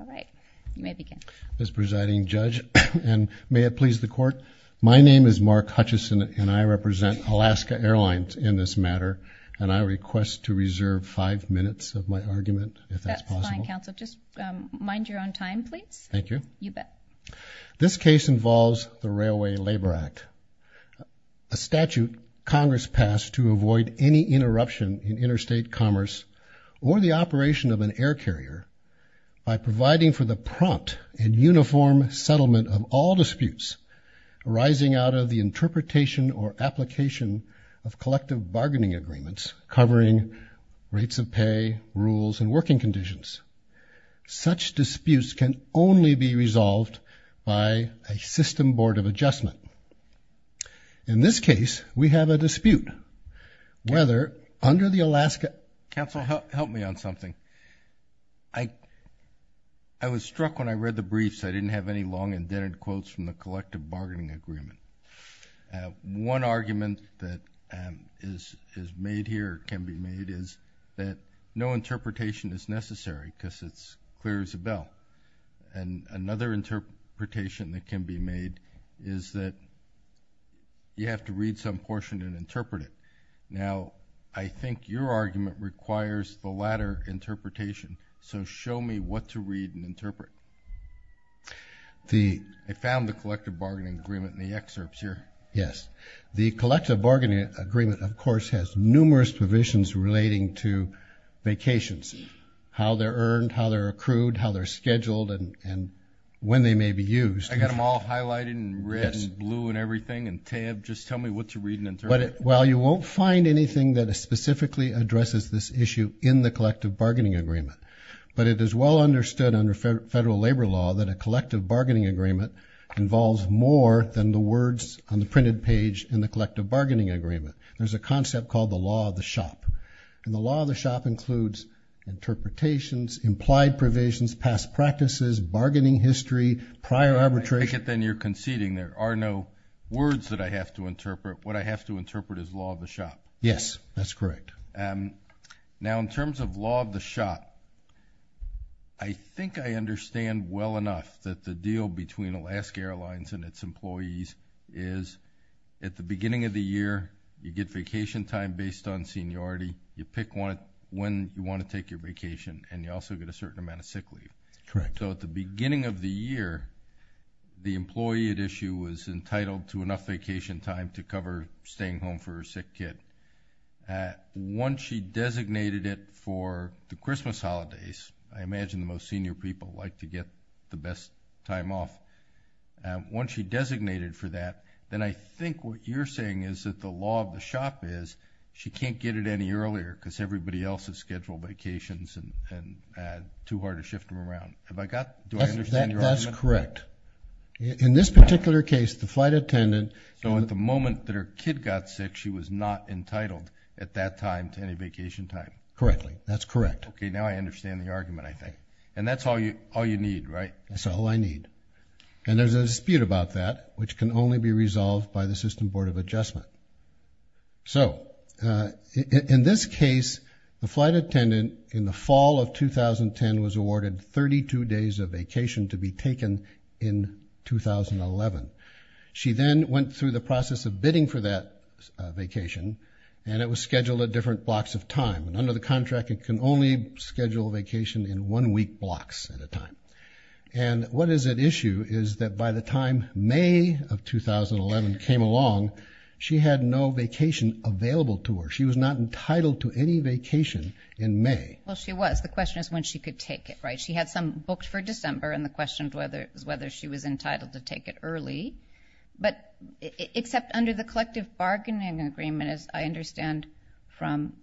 All right, you may begin. Ms. Presiding Judge, and may it please the Court, my name is Mark Hutchison, and I represent Alaska Airlines in this matter, and I request to reserve five minutes of my argument, if that's possible. That's fine, Counsel. Just mind your own time, please. Thank you. You bet. This case involves the Railway Labor Act, a statute Congress passed to avoid any interruption in interstate commerce or the operation of an air carrier by providing for the prompt and uniform settlement of all disputes arising out of the interpretation or application of collective bargaining agreements covering rates of pay, rules, and working conditions. Such disputes can only be resolved by a system board of adjustment. In this case, we have a dispute. Whether under the Alaska— Counsel, help me on something. I was struck when I read the briefs. I didn't have any long indented quotes from the collective bargaining agreement. One argument that is made here, can be made, is that no interpretation is necessary because it's clear as a bell. And another interpretation that can be made is that you have to read some portion and interpret it. Now, I think your argument requires the latter interpretation, so show me what to read and interpret. I found the collective bargaining agreement in the excerpts here. Yes. The collective bargaining agreement, of course, has numerous provisions relating to vacations, how they're earned, how they're accrued, how they're scheduled, and when they may be used. I got them all highlighted in red and blue and everything. And, Tab, just tell me what to read and interpret. Well, you won't find anything that specifically addresses this issue in the collective bargaining agreement. But it is well understood under federal labor law that a collective bargaining agreement involves more than the words on the printed page in the collective bargaining agreement. There's a concept called the law of the shop. And the law of the shop includes interpretations, implied provisions, past practices, bargaining history, prior arbitration. I take it then you're conceding there are no words that I have to interpret. What I have to interpret is law of the shop. Yes, that's correct. Now, in terms of law of the shop, I think I understand well enough that the deal between Alaska Airlines and its employees is at the beginning of the year, you get vacation time based on seniority, you pick when you want to take your vacation, and you also get a certain amount of sick leave. Correct. So at the beginning of the year, the employee at issue was entitled to enough vacation time to cover staying home for her sick kid. Once she designated it for the Christmas holidays, I imagine the most senior people like to get the best time off. Once she designated for that, then I think what you're saying is that the law of the shop is she can't get it any earlier because everybody else has scheduled vacations and too hard to shift them around. Do I understand your argument? That's correct. In this particular case, the flight attendant… So at the moment that her kid got sick, she was not entitled at that time to any vacation time. Correctly. That's correct. Okay, now I understand the argument, I think. And that's all you need, right? That's all I need. And there's a dispute about that, which can only be resolved by the system board of adjustment. So in this case, the flight attendant in the fall of 2010 was awarded 32 days of vacation to be taken in 2011. She then went through the process of bidding for that vacation, and it was scheduled at different blocks of time. Under the contract, it can only schedule a vacation in one week blocks at a time. And what is at issue is that by the time May of 2011 came along, she had no vacation available to her. She was not entitled to any vacation in May. Well, she was. The question is when she could take it, right? She had some booked for December, and the question is whether she was entitled to take it early. But except under the collective bargaining agreement, as I understand from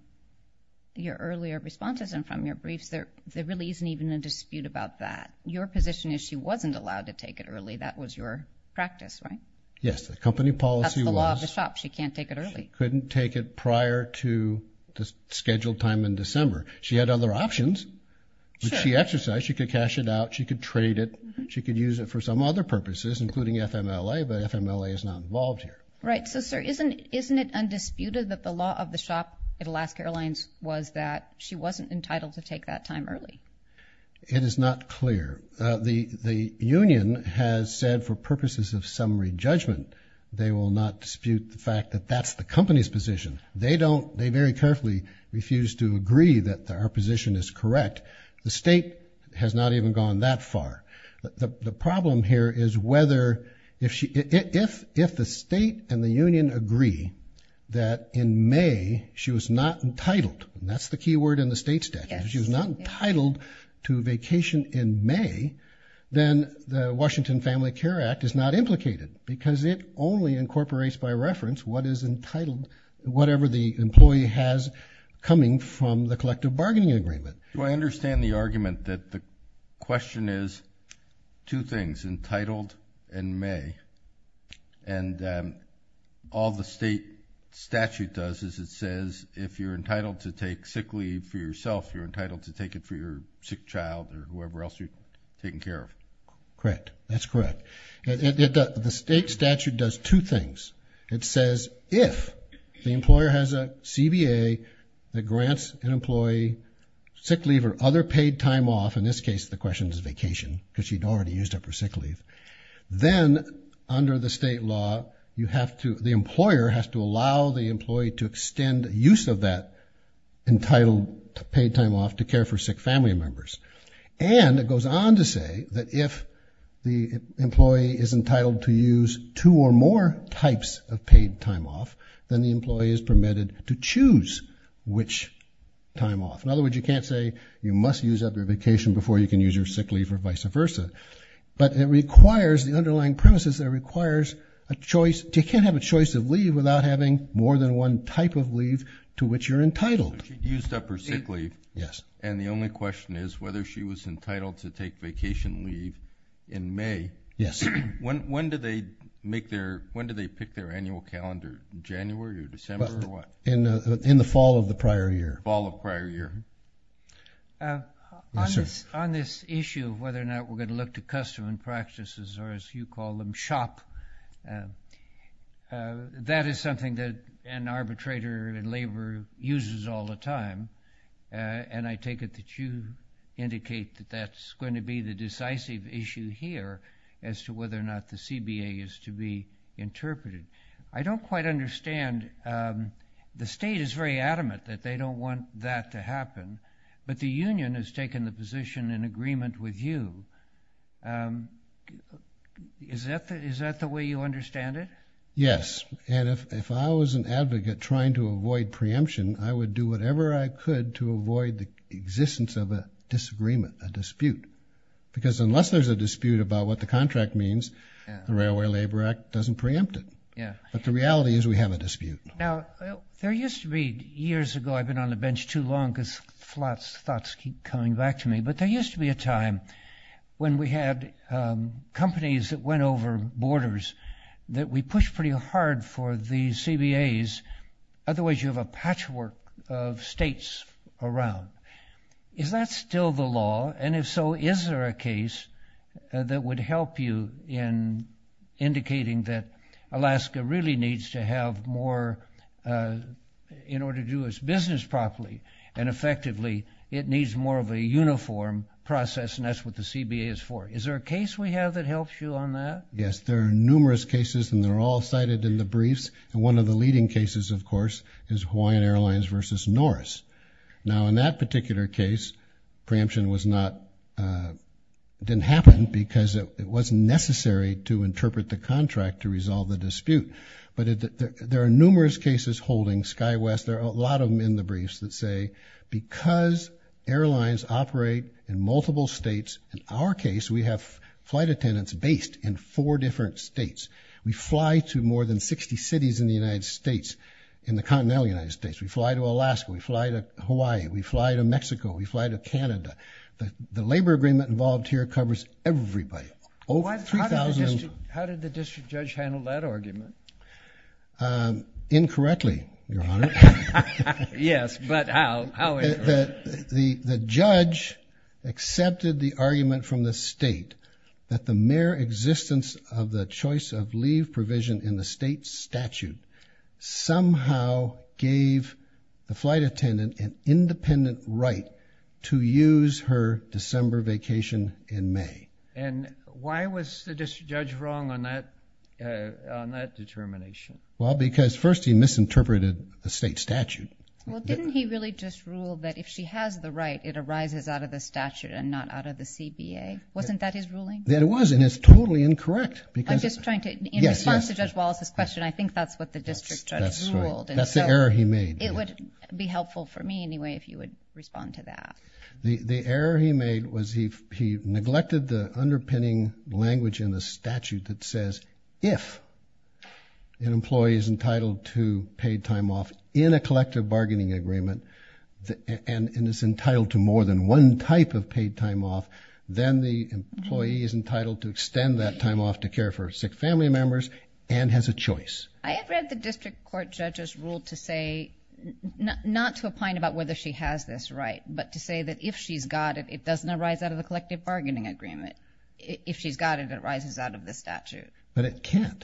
your earlier responses and from your briefs, there really isn't even a dispute about that. Your position is she wasn't allowed to take it early. That was your practice, right? Yes, the company policy was... That's the law of the shop. She can't take it early. She couldn't take it prior to the scheduled time in December. She had other options that she exercised. She could cash it out. She could trade it. She could use it for some other purposes, including FMLA, but FMLA is not involved here. Right. So, sir, isn't it undisputed that the law of the shop at Alaska Airlines was that she wasn't entitled to take that time early? It is not clear. The union has said for purposes of summary judgment they will not dispute the fact that that's the company's position. They very carefully refuse to agree that our position is correct. The state has not even gone that far. The problem here is whether... If the state and the union agree that in May she was not entitled, and that's the key word in the state statute, if she was not entitled to vacation in May, then the Washington Family Care Act is not implicated because it only incorporates by reference what is entitled, whatever the employee has coming from the collective bargaining agreement. Do I understand the argument that the question is two things, entitled in May, and all the state statute does is it says if you're entitled to take sick leave for yourself, you're entitled to take it for your sick child or whoever else you're taking care of. Correct. That's correct. The state statute does two things. It says if the employer has a CBA that grants an employee sick leave or other paid time off, in this case the question is vacation because she'd already used up her sick leave, then under the state law you have to... use of that entitled paid time off to care for sick family members. And it goes on to say that if the employee is entitled to use two or more types of paid time off, then the employee is permitted to choose which time off. In other words, you can't say you must use up your vacation before you can use your sick leave or vice versa. But it requires the underlying premises that it requires a choice... You can't have a choice of leave without having more than one type of leave to which you're entitled. So she'd used up her sick leave. Yes. And the only question is whether she was entitled to take vacation leave in May. Yes. When did they pick their annual calendar? January or December or what? In the fall of the prior year. Fall of prior year. Yes, sir. On this issue of whether or not we're going to look to custom and practices or as you call them, shop. That is something that an arbitrator in labor uses all the time. And I take it that you indicate that that's going to be the decisive issue here as to whether or not the CBA is to be interpreted. I don't quite understand. The state is very adamant that they don't want that to happen. But the union has taken the position in agreement with you. Is that the way you understand it? Yes. And if I was an advocate trying to avoid preemption, I would do whatever I could to avoid the existence of a disagreement, a dispute. Because unless there's a dispute about what the contract means, the Railway Labor Act doesn't preempt it. But the reality is we have a dispute. Now, there used to be years ago, I've been on the bench too long because thoughts keep coming back to me, but there used to be a time when we had companies that went over borders that we pushed pretty hard for the CBAs. Otherwise, you have a patchwork of states around. Is that still the law? And if so, is there a case that would help you in indicating that Alaska really needs to have more in order to do its business properly and effectively it needs more of a uniform process, and that's what the CBA is for? Is there a case we have that helps you on that? Yes. There are numerous cases, and they're all cited in the briefs. And one of the leading cases, of course, is Hawaiian Airlines v. Norris. Now, in that particular case, preemption didn't happen because it wasn't necessary to interpret the contract to resolve the dispute. But there are numerous cases holding sky-west. There are a lot of them in the briefs that say because airlines operate in multiple states, in our case we have flight attendants based in four different states. We fly to more than 60 cities in the United States, in the continental United States. We fly to Alaska. We fly to Hawaii. We fly to Mexico. We fly to Canada. The labor agreement involved here covers everybody. How did the district judge handle that argument? Incorrectly, Your Honor. Yes, but how? The judge accepted the argument from the state that the mere existence of the choice of leave provision in the state statute somehow gave the flight attendant an independent right to use her December vacation in May. And why was the district judge wrong on that determination? Well, because first he misinterpreted the state statute. Well, didn't he really just rule that if she has the right, it arises out of the statute and not out of the CBA? Wasn't that his ruling? It was, and it's totally incorrect. I'm just trying to, in response to Judge Wallace's question, I think that's what the district judge ruled. That's the error he made. It would be helpful for me anyway if you would respond to that. The error he made was he neglected the underpinning language in the statute that says if an employee is entitled to paid time off in a collective bargaining agreement and is entitled to more than one type of paid time off, then the employee is entitled to extend that time off to care for sick family members and has a choice. I have read the district court judge's rule to say not to opine about whether she has this right but to say that if she's got it, it doesn't arise out of the collective bargaining agreement. If she's got it, it arises out of the statute. But it can't.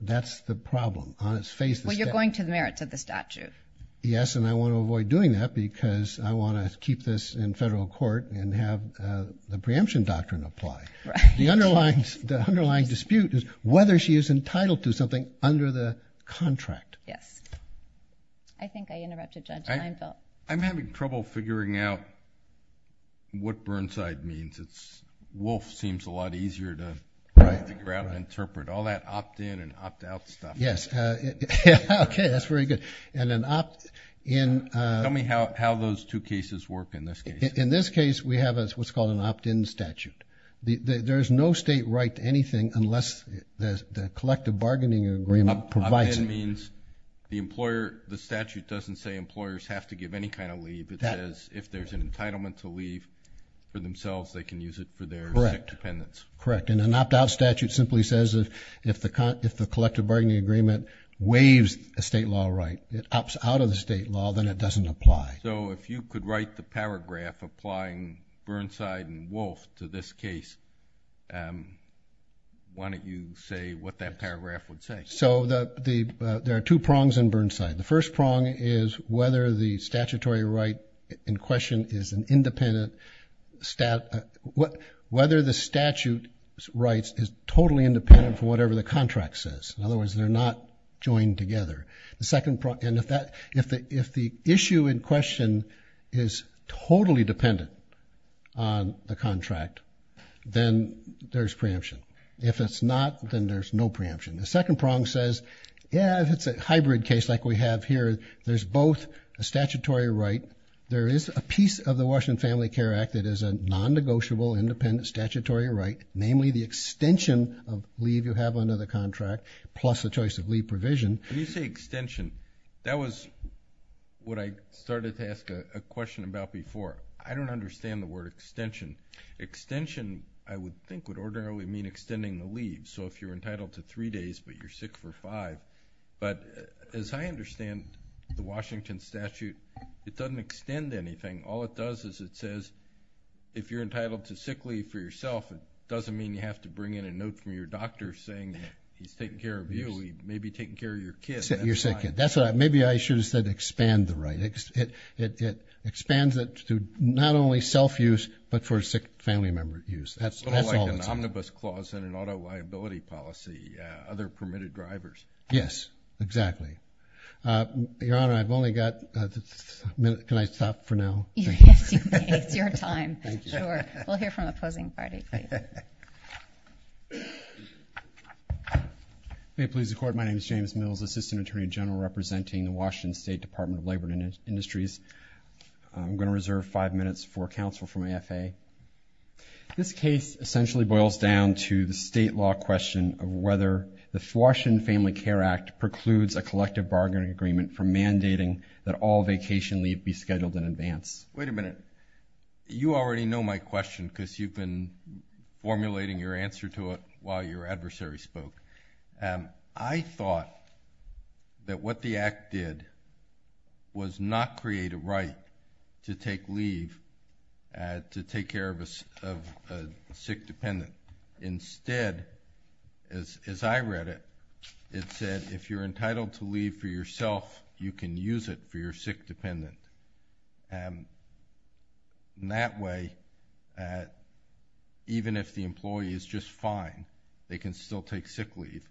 That's the problem on its face. Well, you're going to the merits of the statute. Yes, and I want to avoid doing that because I want to keep this in federal court and have the preemption doctrine apply. The underlying dispute is whether she is entitled to something under the contract. Yes. I think I interrupted Judge Leinfeld. I'm having trouble figuring out what Burnside means. Wolf seems a lot easier to ground and interpret. All that opt-in and opt-out stuff. Yes. Okay, that's very good. And an opt-in. Tell me how those two cases work in this case. In this case, we have what's called an opt-in statute. There is no state right to anything unless the collective bargaining agreement provides it. That means the statute doesn't say employers have to give any kind of leave. It says if there's an entitlement to leave for themselves, they can use it for their independence. Correct, and an opt-out statute simply says if the collective bargaining agreement waives a state law right, it opts out of the state law, then it doesn't apply. So if you could write the paragraph applying Burnside and Wolf to this case, why don't you say what that paragraph would say? So there are two prongs in Burnside. The first prong is whether the statutory right in question is an independent statute. Whether the statute's rights is totally independent from whatever the contract says. In other words, they're not joined together. And if the issue in question is totally dependent on the contract, then there's preemption. If it's not, then there's no preemption. The second prong says, yeah, if it's a hybrid case like we have here, there's both a statutory right. There is a piece of the Washington Family Care Act that is a non-negotiable independent statutory right, namely the extension of leave you have under the contract plus the choice of leave provision. When you say extension, that was what I started to ask a question about before. I don't understand the word extension. Extension, I would think, would ordinarily mean extending the leave. So if you're entitled to three days but you're sick for five. But as I understand the Washington statute, it doesn't extend anything. All it does is it says if you're entitled to sick leave for yourself, it doesn't mean you have to bring in a note from your doctor saying he's taken care of you. He may be taking care of your kid. That's what I – maybe I should have said expand the right. It expands it to not only self-use but for sick family member use. It's sort of like an omnibus clause in an auto liability policy, other permitted drivers. Yes, exactly. Your Honor, I've only got a minute. Can I stop for now? Yes, you may. It's your time. Thank you. Sure. We'll hear from the opposing party. May it please the Court. My name is James Mills, Assistant Attorney General representing the Washington State Department of Labor and Industries. I'm going to reserve five minutes for counsel from AFA. This case essentially boils down to the state law question of whether the Washington Family Care Act precludes a collective bargaining agreement for mandating that all vacation leave be scheduled in advance. Wait a minute. You already know my question because you've been formulating your answer to it while your adversary spoke. I thought that what the act did was not create a right to take leave, to take care of a sick dependent. Instead, as I read it, it said if you're entitled to leave for yourself, you can use it for your sick dependent. That way, even if the employee is just fine, they can still take sick leave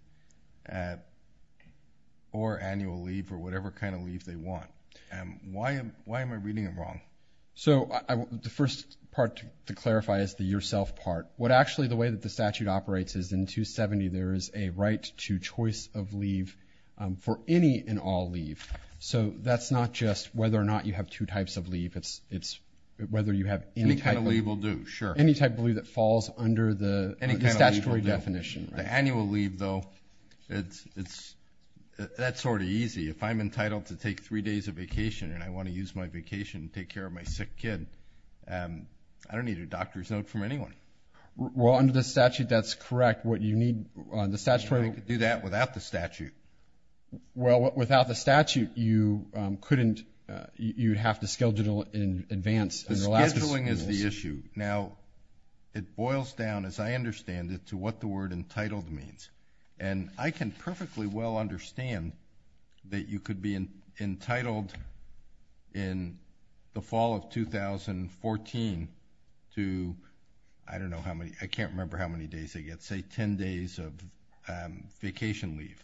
or annual leave or whatever kind of leave they want. Why am I reading it wrong? The first part to clarify is the yourself part. Actually, the way that the statute operates is in 270, there is a right to choice of leave for any and all leave. That's not just whether or not you have two types of leave. It's whether you have any type... Any kind of leave will do, sure. Any type of leave that falls under the statutory definition. The annual leave, though, that's sort of easy. If I'm entitled to take three days of vacation and I want to use my vacation to take care of my sick kid, I don't need a doctor's note from anyone. Well, under the statute, that's correct. What you need on the statutory... I could do that without the statute. Well, without the statute, you couldn't. You'd have to schedule in advance. Scheduling is the issue. Now, it boils down, as I understand it, to what the word entitled means. I can perfectly well understand that you could be entitled, in the fall of 2014, to... I don't know how many. I can't remember how many days they get. Say 10 days of vacation leave.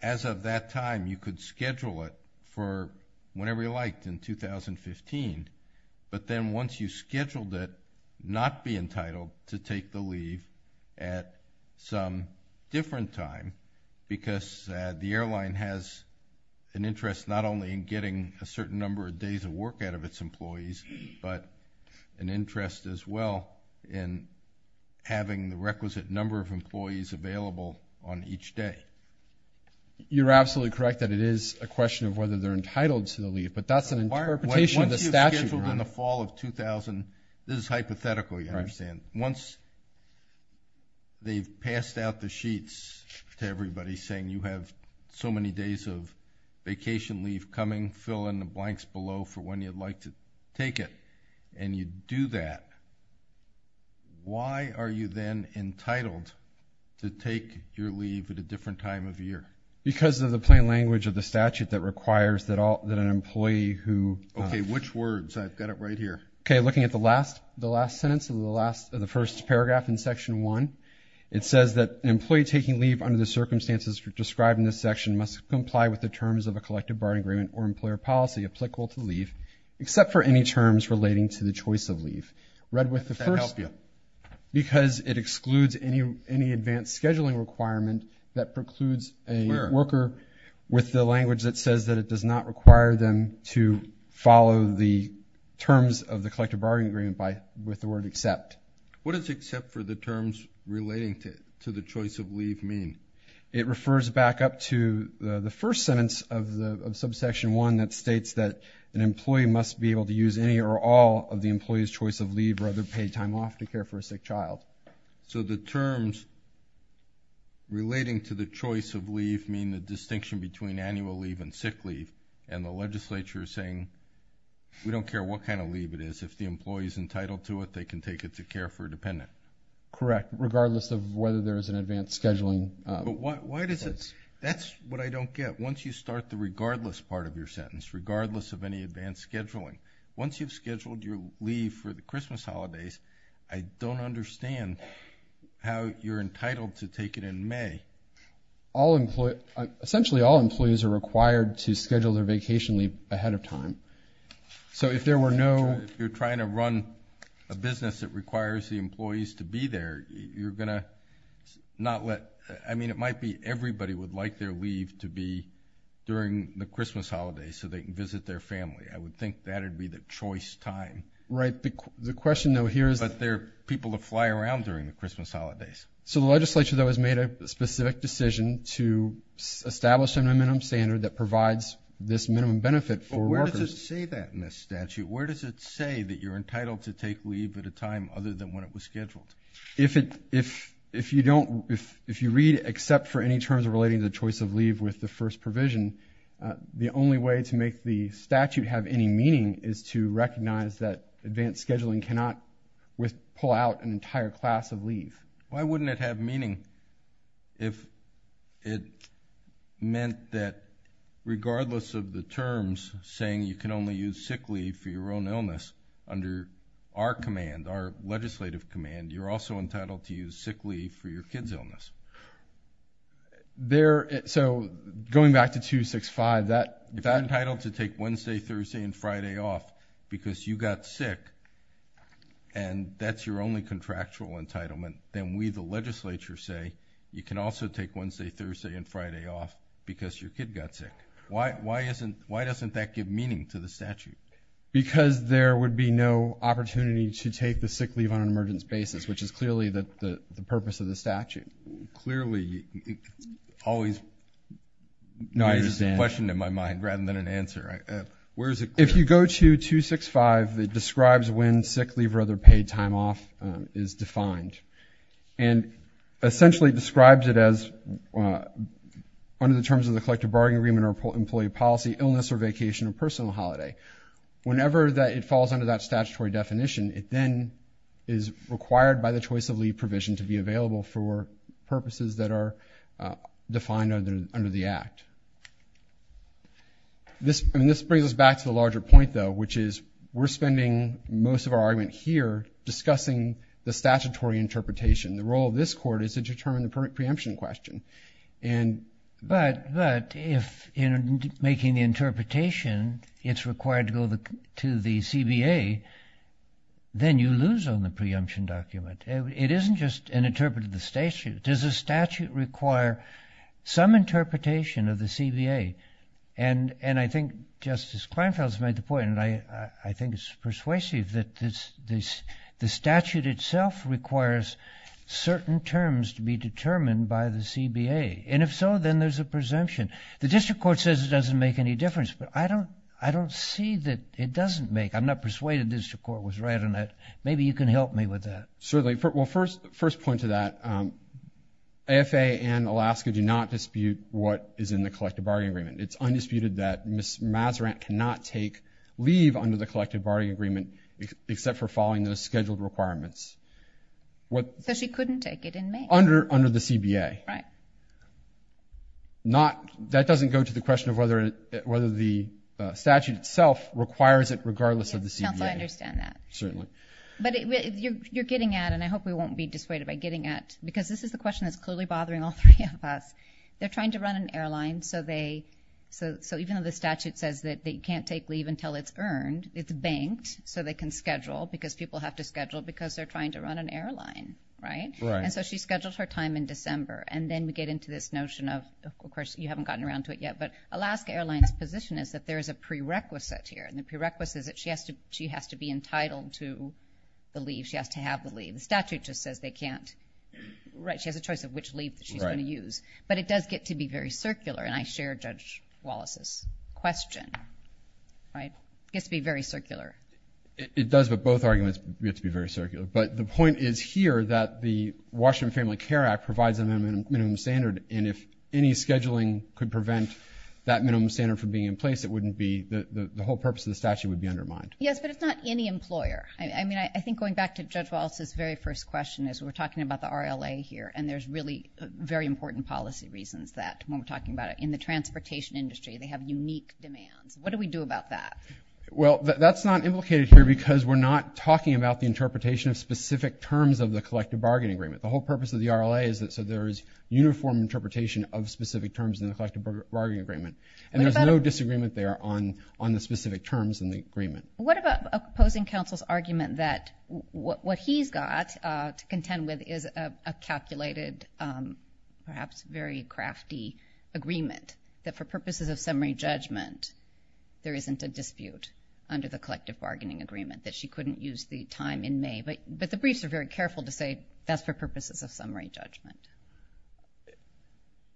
As of that time, you could schedule it for whenever you liked in 2015. But then once you scheduled it, not be entitled to take the leave at some different time because the airline has an interest not only in getting a certain number of days of work out of its employees, but an interest as well in having the requisite number of employees available on each day. You're absolutely correct that it is a question of whether they're entitled to the leave, but that's an interpretation of the statute. Once you've scheduled in the fall of... This is hypothetical, you understand. Once they've passed out the sheets to everybody saying you have so many days of vacation leave coming, fill in the blanks below for when you'd like to take it, and you do that, why are you then entitled to take your leave at a different time of year? Because of the plain language of the statute that requires that an employee who... Okay, which words? I've got it right here. Okay, looking at the last sentence of the first paragraph in Section 1, it says that an employee taking leave under the circumstances described in this section must comply with the terms of a collective bar agreement or employer policy applicable to leave except for any terms relating to the choice of leave. Read with the first... Does that help you? Because it excludes any advanced scheduling requirement that precludes a worker with the language that says that it does not require them to follow the terms of the collective bargain agreement with the word except. What does except for the terms relating to the choice of leave mean? It refers back up to the first sentence of Subsection 1 that states that an employee must be able to use any or all of the employee's choice of leave or other paid time off to care for a sick child. So the terms relating to the choice of leave mean the distinction between annual leave and sick leave, and the legislature is saying we don't care what kind of leave it is. If the employee is entitled to it, they can take it to care for a dependent. Correct, regardless of whether there is an advanced scheduling... But why does it... that's what I don't get. Once you start the regardless part of your sentence, regardless of any advanced scheduling, once you've scheduled your leave for the Christmas holidays, I don't understand how you're entitled to take it in May. Essentially, all employees are required to schedule their vacation leave ahead of time. So if there were no... If you're trying to run a business that requires the employees to be there, you're going to not let... I mean, it might be everybody would like their leave to be during the Christmas holidays so they can visit their family. I would think that would be the choice time. Right, the question, though, here is... But there are people that fly around during the Christmas holidays. So the legislature, though, has made a specific decision to establish an amendment standard that provides this minimum benefit for workers. But where does it say that in this statute? Where does it say that you're entitled to take leave at a time other than when it was scheduled? If you don't... If you read except for any terms relating to the choice of leave with the first provision, the only way to make the statute have any meaning is to recognize that advanced scheduling cannot pull out an entire class of leave. Why wouldn't it have meaning if it meant that regardless of the terms saying you can only use sick leave for your own illness, under our command, our legislative command, you're also entitled to use sick leave for your kid's illness? So going back to 265, if I'm entitled to take Wednesday, Thursday, and Friday off because you got sick and that's your only contractual entitlement, then we, the legislature, say you can also take Wednesday, Thursday, and Friday off because your kid got sick. Why doesn't that give meaning to the statute? Because there would be no opportunity to take the sick leave on an emergence basis, which is clearly the purpose of the statute. Clearly, it's always... No, I understand.... a question in my mind rather than an answer. Where is it clear? If you go to 265, it describes when sick leave or other paid time off is defined and essentially describes it as under the terms of the collective bargaining agreement or employee policy, illness or vacation, or personal holiday. Whenever it falls under that statutory definition, it then is required by the choice of leave provision to be available for purposes that are defined under the Act. This brings us back to the larger point, though, which is we're spending most of our argument here discussing the statutory interpretation. The role of this court is to determine the preemption question. But if in making the interpretation it's required to go to the CBA, then you lose on the preemption document. It isn't just an interpretative statute. Does the statute require some interpretation of the CBA? And I think Justice Kleinfeld has made the point, and I think it's persuasive that the statute itself requires certain terms to be determined by the CBA. And if so, then there's a presumption. The district court says it doesn't make any difference, but I don't see that it doesn't make. I'm not persuaded the district court was right on that. Maybe you can help me with that. Certainly. Well, first point to that, AFA and Alaska do not dispute what is in the collective bargaining agreement. It's undisputed that Ms. Mazarin cannot take leave under the collective bargaining agreement except for following those scheduled requirements. So she couldn't take it in May. Under the CBA. Right. That doesn't go to the question of whether the statute itself requires it regardless of the CBA. Yes, counsel, I understand that. Certainly. But you're getting at, and I hope we won't be dissuaded by getting at, because this is the question that's clearly bothering all three of us. They're trying to run an airline, so even though the statute says that they can't take leave until it's earned, it's banked so they can schedule because people have to schedule because they're trying to run an airline, right? Right. And so she scheduled her time in December, and then we get into this notion of, of course, you haven't gotten around to it yet, but Alaska Airlines' position is that there is a prerequisite here, and the prerequisite is that she has to be entitled to the leave. She has to have the leave. The statute just says they can't. Right. She has a choice of which leave she's going to use. Right. But it does get to be very circular, and I share Judge Wallace's question, right? It gets to be very circular. It does, but both arguments get to be very circular. But the point is here that the Washington Family Care Act provides a minimum standard, and if any scheduling could prevent that minimum standard from being in place, it wouldn't be the whole purpose of the statute would be undermined. Yes, but it's not any employer. I mean, I think going back to Judge Wallace's very first question is we're talking about the RLA here, and there's really very important policy reasons that when we're talking about it. In the transportation industry, they have unique demands. What do we do about that? Well, that's not implicated here because we're not talking about the interpretation of specific terms of the collective bargaining agreement. The whole purpose of the RLA is that so there is uniform interpretation of specific terms in the collective bargaining agreement, and there's no disagreement there on the specific terms in the agreement. What about opposing counsel's argument that what he's got to contend with is a calculated, perhaps very crafty agreement, that for purposes of summary judgment, there isn't a dispute under the collective bargaining agreement, that she couldn't use the time in May? But the briefs are very careful to say that's for purposes of summary judgment.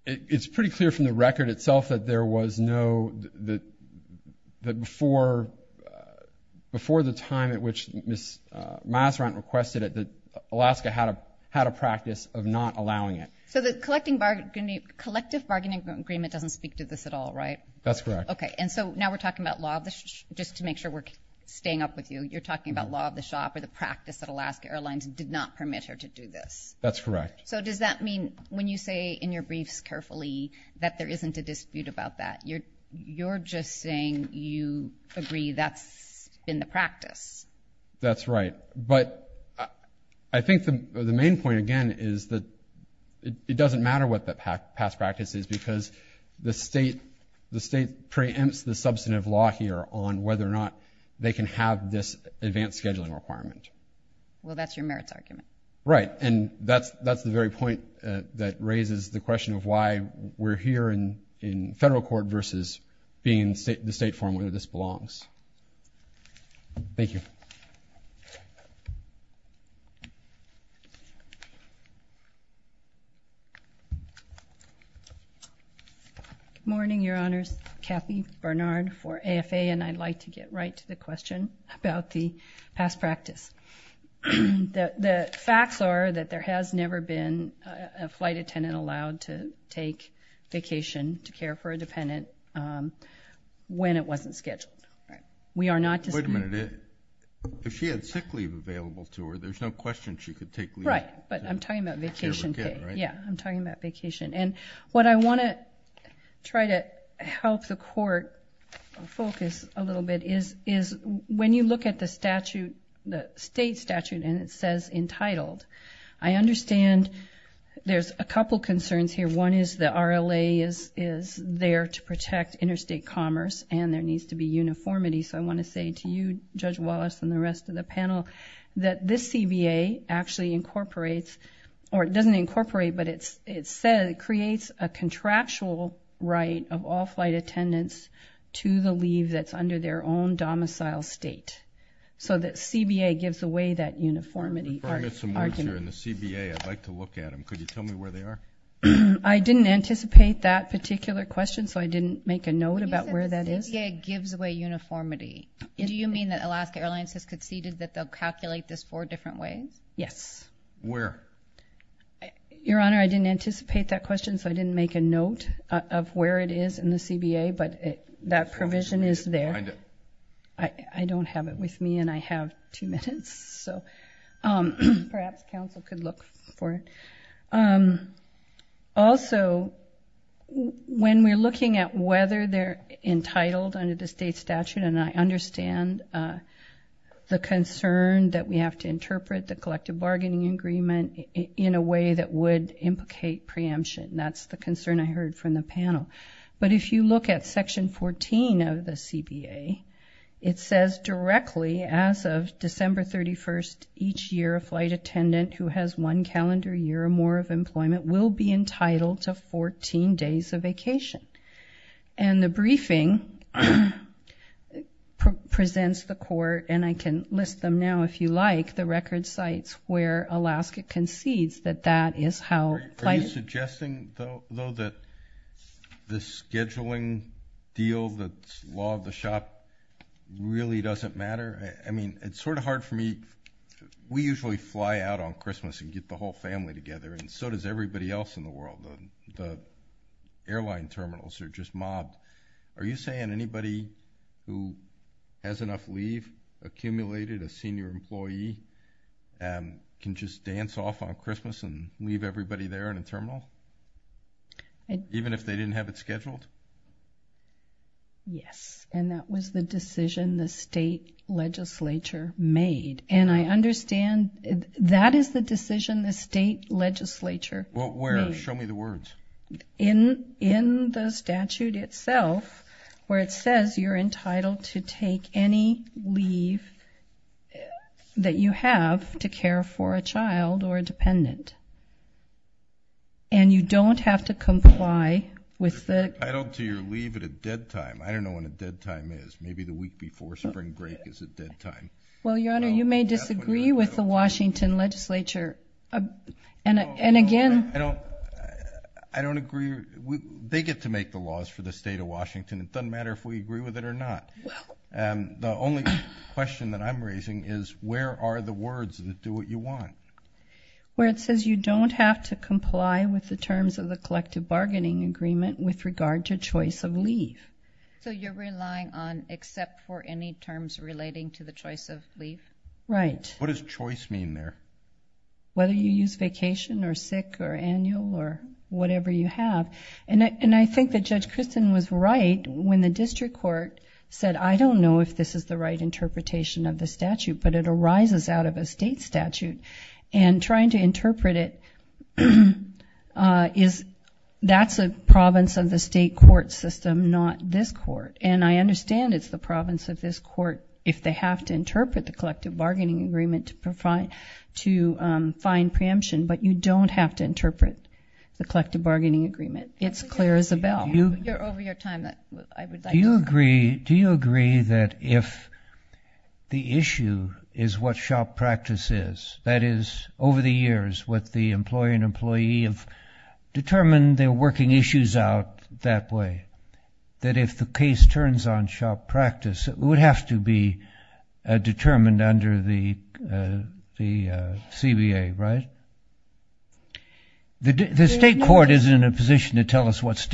It's pretty clear from the record itself that there was no, that before the time at which Ms. Masserant requested it, Alaska had a practice of not allowing it. So the collective bargaining agreement doesn't speak to this at all, right? That's correct. Okay, and so now we're talking about law of the shop. Just to make sure we're staying up with you, you're talking about law of the shop or the practice that Alaska Airlines did not permit her to do this. That's correct. So does that mean when you say in your briefs carefully that there isn't a dispute about that, you're just saying you agree that's been the practice? That's right. But I think the main point, again, is that it doesn't matter what the past practice is because the state preempts the substantive law here on whether or not they can have this advanced scheduling requirement. Well, that's your merits argument. Right, and that's the very point that raises the question of why we're here in federal court versus being in the state forum where this belongs. Thank you. Good morning, Your Honors. Kathy Bernard for AFA, and I'd like to get right to the question about the past practice. The facts are that there has never been a flight attendant allowed to take vacation to care for a dependent when it wasn't scheduled. Wait a minute. If she had sick leave available to her, there's no question she could take leave. Right, but I'm talking about vacation pay. Yeah, I'm talking about vacation. And what I want to try to help the court focus a little bit is when you look at the statute, the state statute, and it says entitled, I understand there's a couple concerns here. One is the RLA is there to protect interstate commerce and there needs to be uniformity. So I want to say to you, Judge Wallace, and the rest of the panel, that this CBA actually incorporates... or it doesn't incorporate, but it says it creates a contractual right of all flight attendants to the leave that's under their own domicile state. So the CBA gives away that uniformity argument. I'd like to look at them. Could you tell me where they are? I didn't anticipate that particular question, so I didn't make a note about where that is. You said the CBA gives away uniformity. Do you mean that Alaska Airlines has conceded that they'll calculate this four different ways? Yes. Where? Your Honor, I didn't anticipate that question, so I didn't make a note of where it is in the CBA, but that provision is there. I don't have it with me and I have two minutes. Perhaps counsel could look for it. Also, when we're looking at whether they're entitled under the state statute, and I understand the concern that we have to interpret the collective bargaining agreement in a way that would implicate preemption. That's the concern I heard from the panel. But if you look at Section 14 of the CBA, it says directly as of December 31st, each year a flight attendant who has one calendar year or more of employment will be entitled to 14 days of vacation. And the briefing presents the court, and I can list them now if you like, the record sites where Alaska concedes that that is how flight attendants deal the law of the shop really doesn't matter. I mean, it's sort of hard for me. We usually fly out on Christmas and get the whole family together, and so does everybody else in the world. The airline terminals are just mobbed. Are you saying anybody who has enough leave accumulated, a senior employee, can just dance off on Christmas and leave everybody there in a terminal? Even if they didn't have it scheduled? Yes, and that was the decision the state legislature made. And I understand that is the decision the state legislature made. Well, where? Show me the words. In the statute itself where it says you're entitled to take any leave that you have to care for a child or a dependent, and you don't have to comply with the terms of the collective bargaining agreement with regard to the Well, you're entitled to your leave at a dead time. I don't know when a dead time is. Maybe the week before spring break is a dead time. Well, Your Honor, you may disagree with the Washington legislature. And again, I don't agree. They get to make the laws for the state of Washington. It doesn't matter if we agree with it or not. The only question that I'm raising is where are the words that do what you want? Where it says you don't have to comply with the terms of the collective bargaining agreement with regard to choice of leave. So you're relying on except for any terms relating to the choice of leave? Right. What does choice mean there? Whether you use vacation or sick or annual or whatever you have. And I think that Judge Christin was right when the district court said, I don't know if this is the right interpretation of the statute, but it arises out of a state statute. And trying to interpret it is that's a province of the state court system, not this court. And I understand it's the province of this court if they have to interpret the collective bargaining agreement to find preemption. But you don't have to interpret the collective bargaining agreement. It's clear as a bell. You're over your time. Do you agree that if the issue is what shop practice is, that is over the years what the employer and employee have determined they're working issues out that way, that if the case turns on shop practice, it would have to be determined under the CBA, right? The state court isn't in a position to tell us what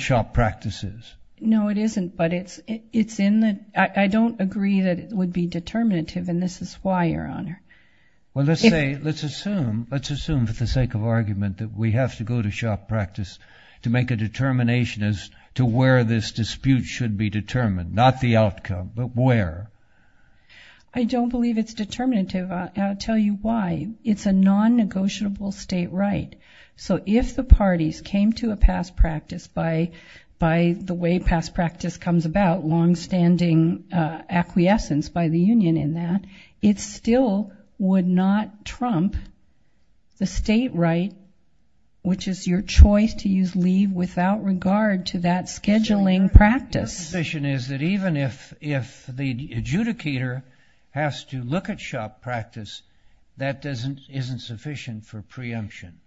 shop practice is. No, it isn't. But I don't agree that it would be determinative, and this is why, Your Honor. Well, let's assume for the sake of argument that we have to go to shop practice to make a determination as to where this dispute should be determined, not the outcome, but where. I don't believe it's determinative. I'll tell you why. It's a non-negotiable state right. So if the parties came to a past practice by the way past practice comes about, longstanding acquiescence by the union in that, it still would not trump the state right, which is your choice to use leave without regard to that scheduling practice. Your position is that even if the adjudicator has to look at shop practice, that isn't sufficient for preemption.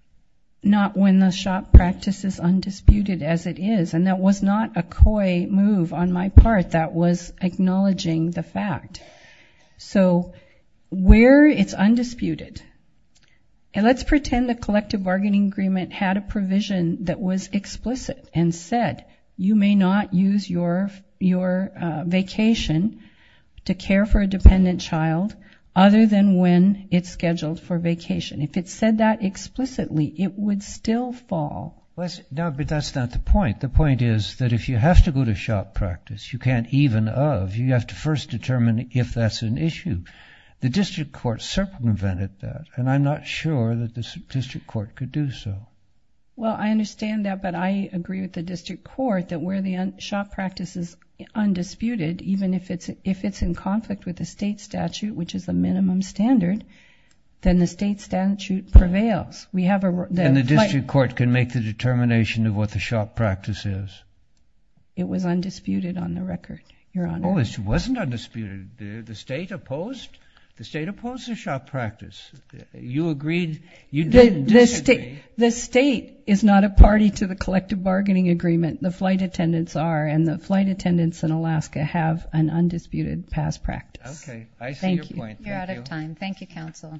Not when the shop practice is undisputed as it is, and that was not a coy move on my part that was acknowledging the fact. So where it's undisputed, and let's pretend the collective bargaining agreement had a provision that was explicit and said you may not use your vacation to care for a person when it's scheduled for vacation. If it said that explicitly, it would still fall. No, but that's not the point. The point is that if you have to go to shop practice, you can't even of, you have to first determine if that's an issue. The district court circumvented that, and I'm not sure that the district court could do so. Well, I understand that, but I agree with the district court that where the shop practice is undisputed, even if it's in conflict with the state statute, which is the minimum standard, then the state statute prevails. And the district court can make the determination of what the shop practice is? It was undisputed on the record, Your Honor. Oh, it wasn't undisputed. The state opposed the shop practice. You agreed, you didn't disagree. The state is not a party to the collective bargaining agreement. The flight attendants are, and the flight attendants in Alaska have an undisputed past practice. Okay. I see your point. Thank you. You're out of time. Thank you, counsel.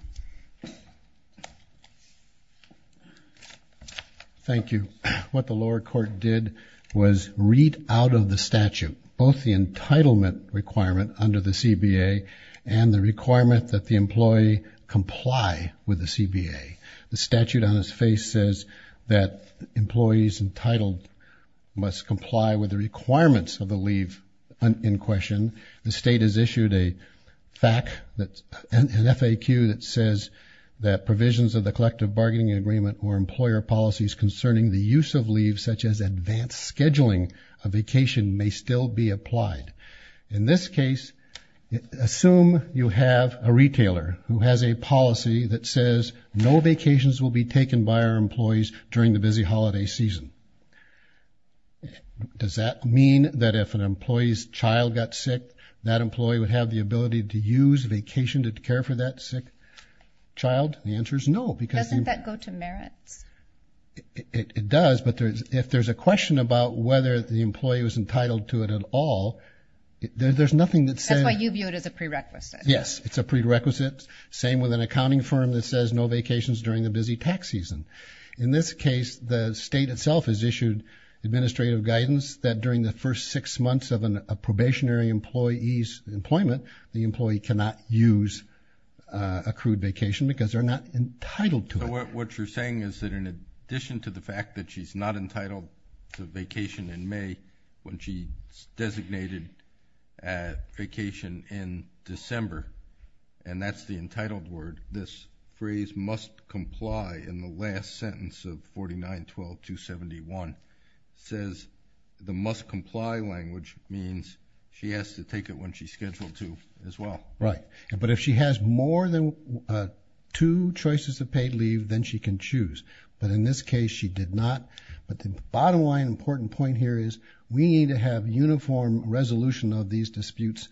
Thank you. What the lower court did was read out of the statute both the entitlement requirement under the CBA and the requirement that the employee comply with the CBA. The statute on its face says that employees entitled must comply with the requirements of the leave in question. The state has issued a FAQ that says that provisions of the collective bargaining agreement or employer policies concerning the use of leave, such as advanced scheduling of vacation, may still be applied. In this case, assume you have a retailer who has a policy that says no vacations will be taken by our employees during the busy holiday season. Does that mean that if an employee's child got sick, that employee would have the ability to use vacation to care for that sick child? The answer is no. Doesn't that go to merits? It does, but if there's a question about whether the employee was entitled to it at all, there's nothing that says. That's why you view it as a prerequisite. Yes, it's a prerequisite. Same with an accounting firm that says no vacations during the busy tax season. In this case, the state itself has issued administrative guidance that during the first six months of a probationary employee's employment, the employee cannot use accrued vacation because they're not entitled to it. What you're saying is that in addition to the fact that she's not entitled to vacation in May, when she designated vacation in December, and that's the entitled word, this phrase must comply in the last sentence of 49-12-271, says the must comply language means she has to take it when she's scheduled to as well. Right. But if she has more than two choices of paid leave, then she can choose. But in this case, she did not, but the bottom line important point here is we need to have uniform resolution of these disputes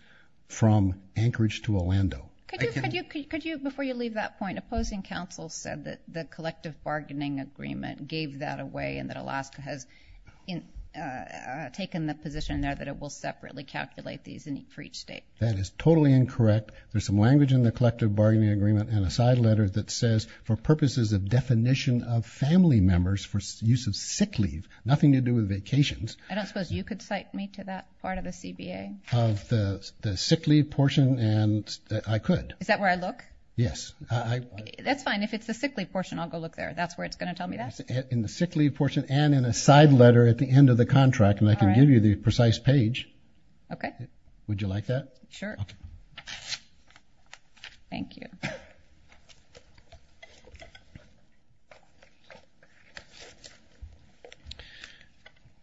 from Anchorage to Orlando. Before you leave that point, opposing counsel said that the collective bargaining agreement gave that away and that Alaska has taken the position there that it will separately calculate these for each state. That is totally incorrect. There's some language in the collective bargaining agreement and a side letter that says for purposes of definition of family members for use of sick leave, nothing to do with vacations. I don't suppose you could cite me to that part of the CBA. The sick leave portion and I could. Is that where I look? Yes. That's fine. If it's the sick leave portion, I'll go look there. That's where it's going to tell me that in the sick leave portion and in a side letter at the end of the contract. And I can give you the precise page. Okay. Would you like that? Sure. Okay. Thank you. Thank you. Thank you. Thank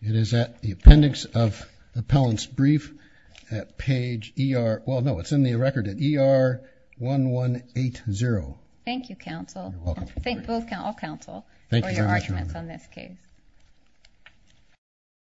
you. It is at the appendix of the appellant's brief page. ER. Well, no, it's in the record at ER one, one eight, zero. Thank you. Counsel. Thank you. All counsel. Thank you. On this case.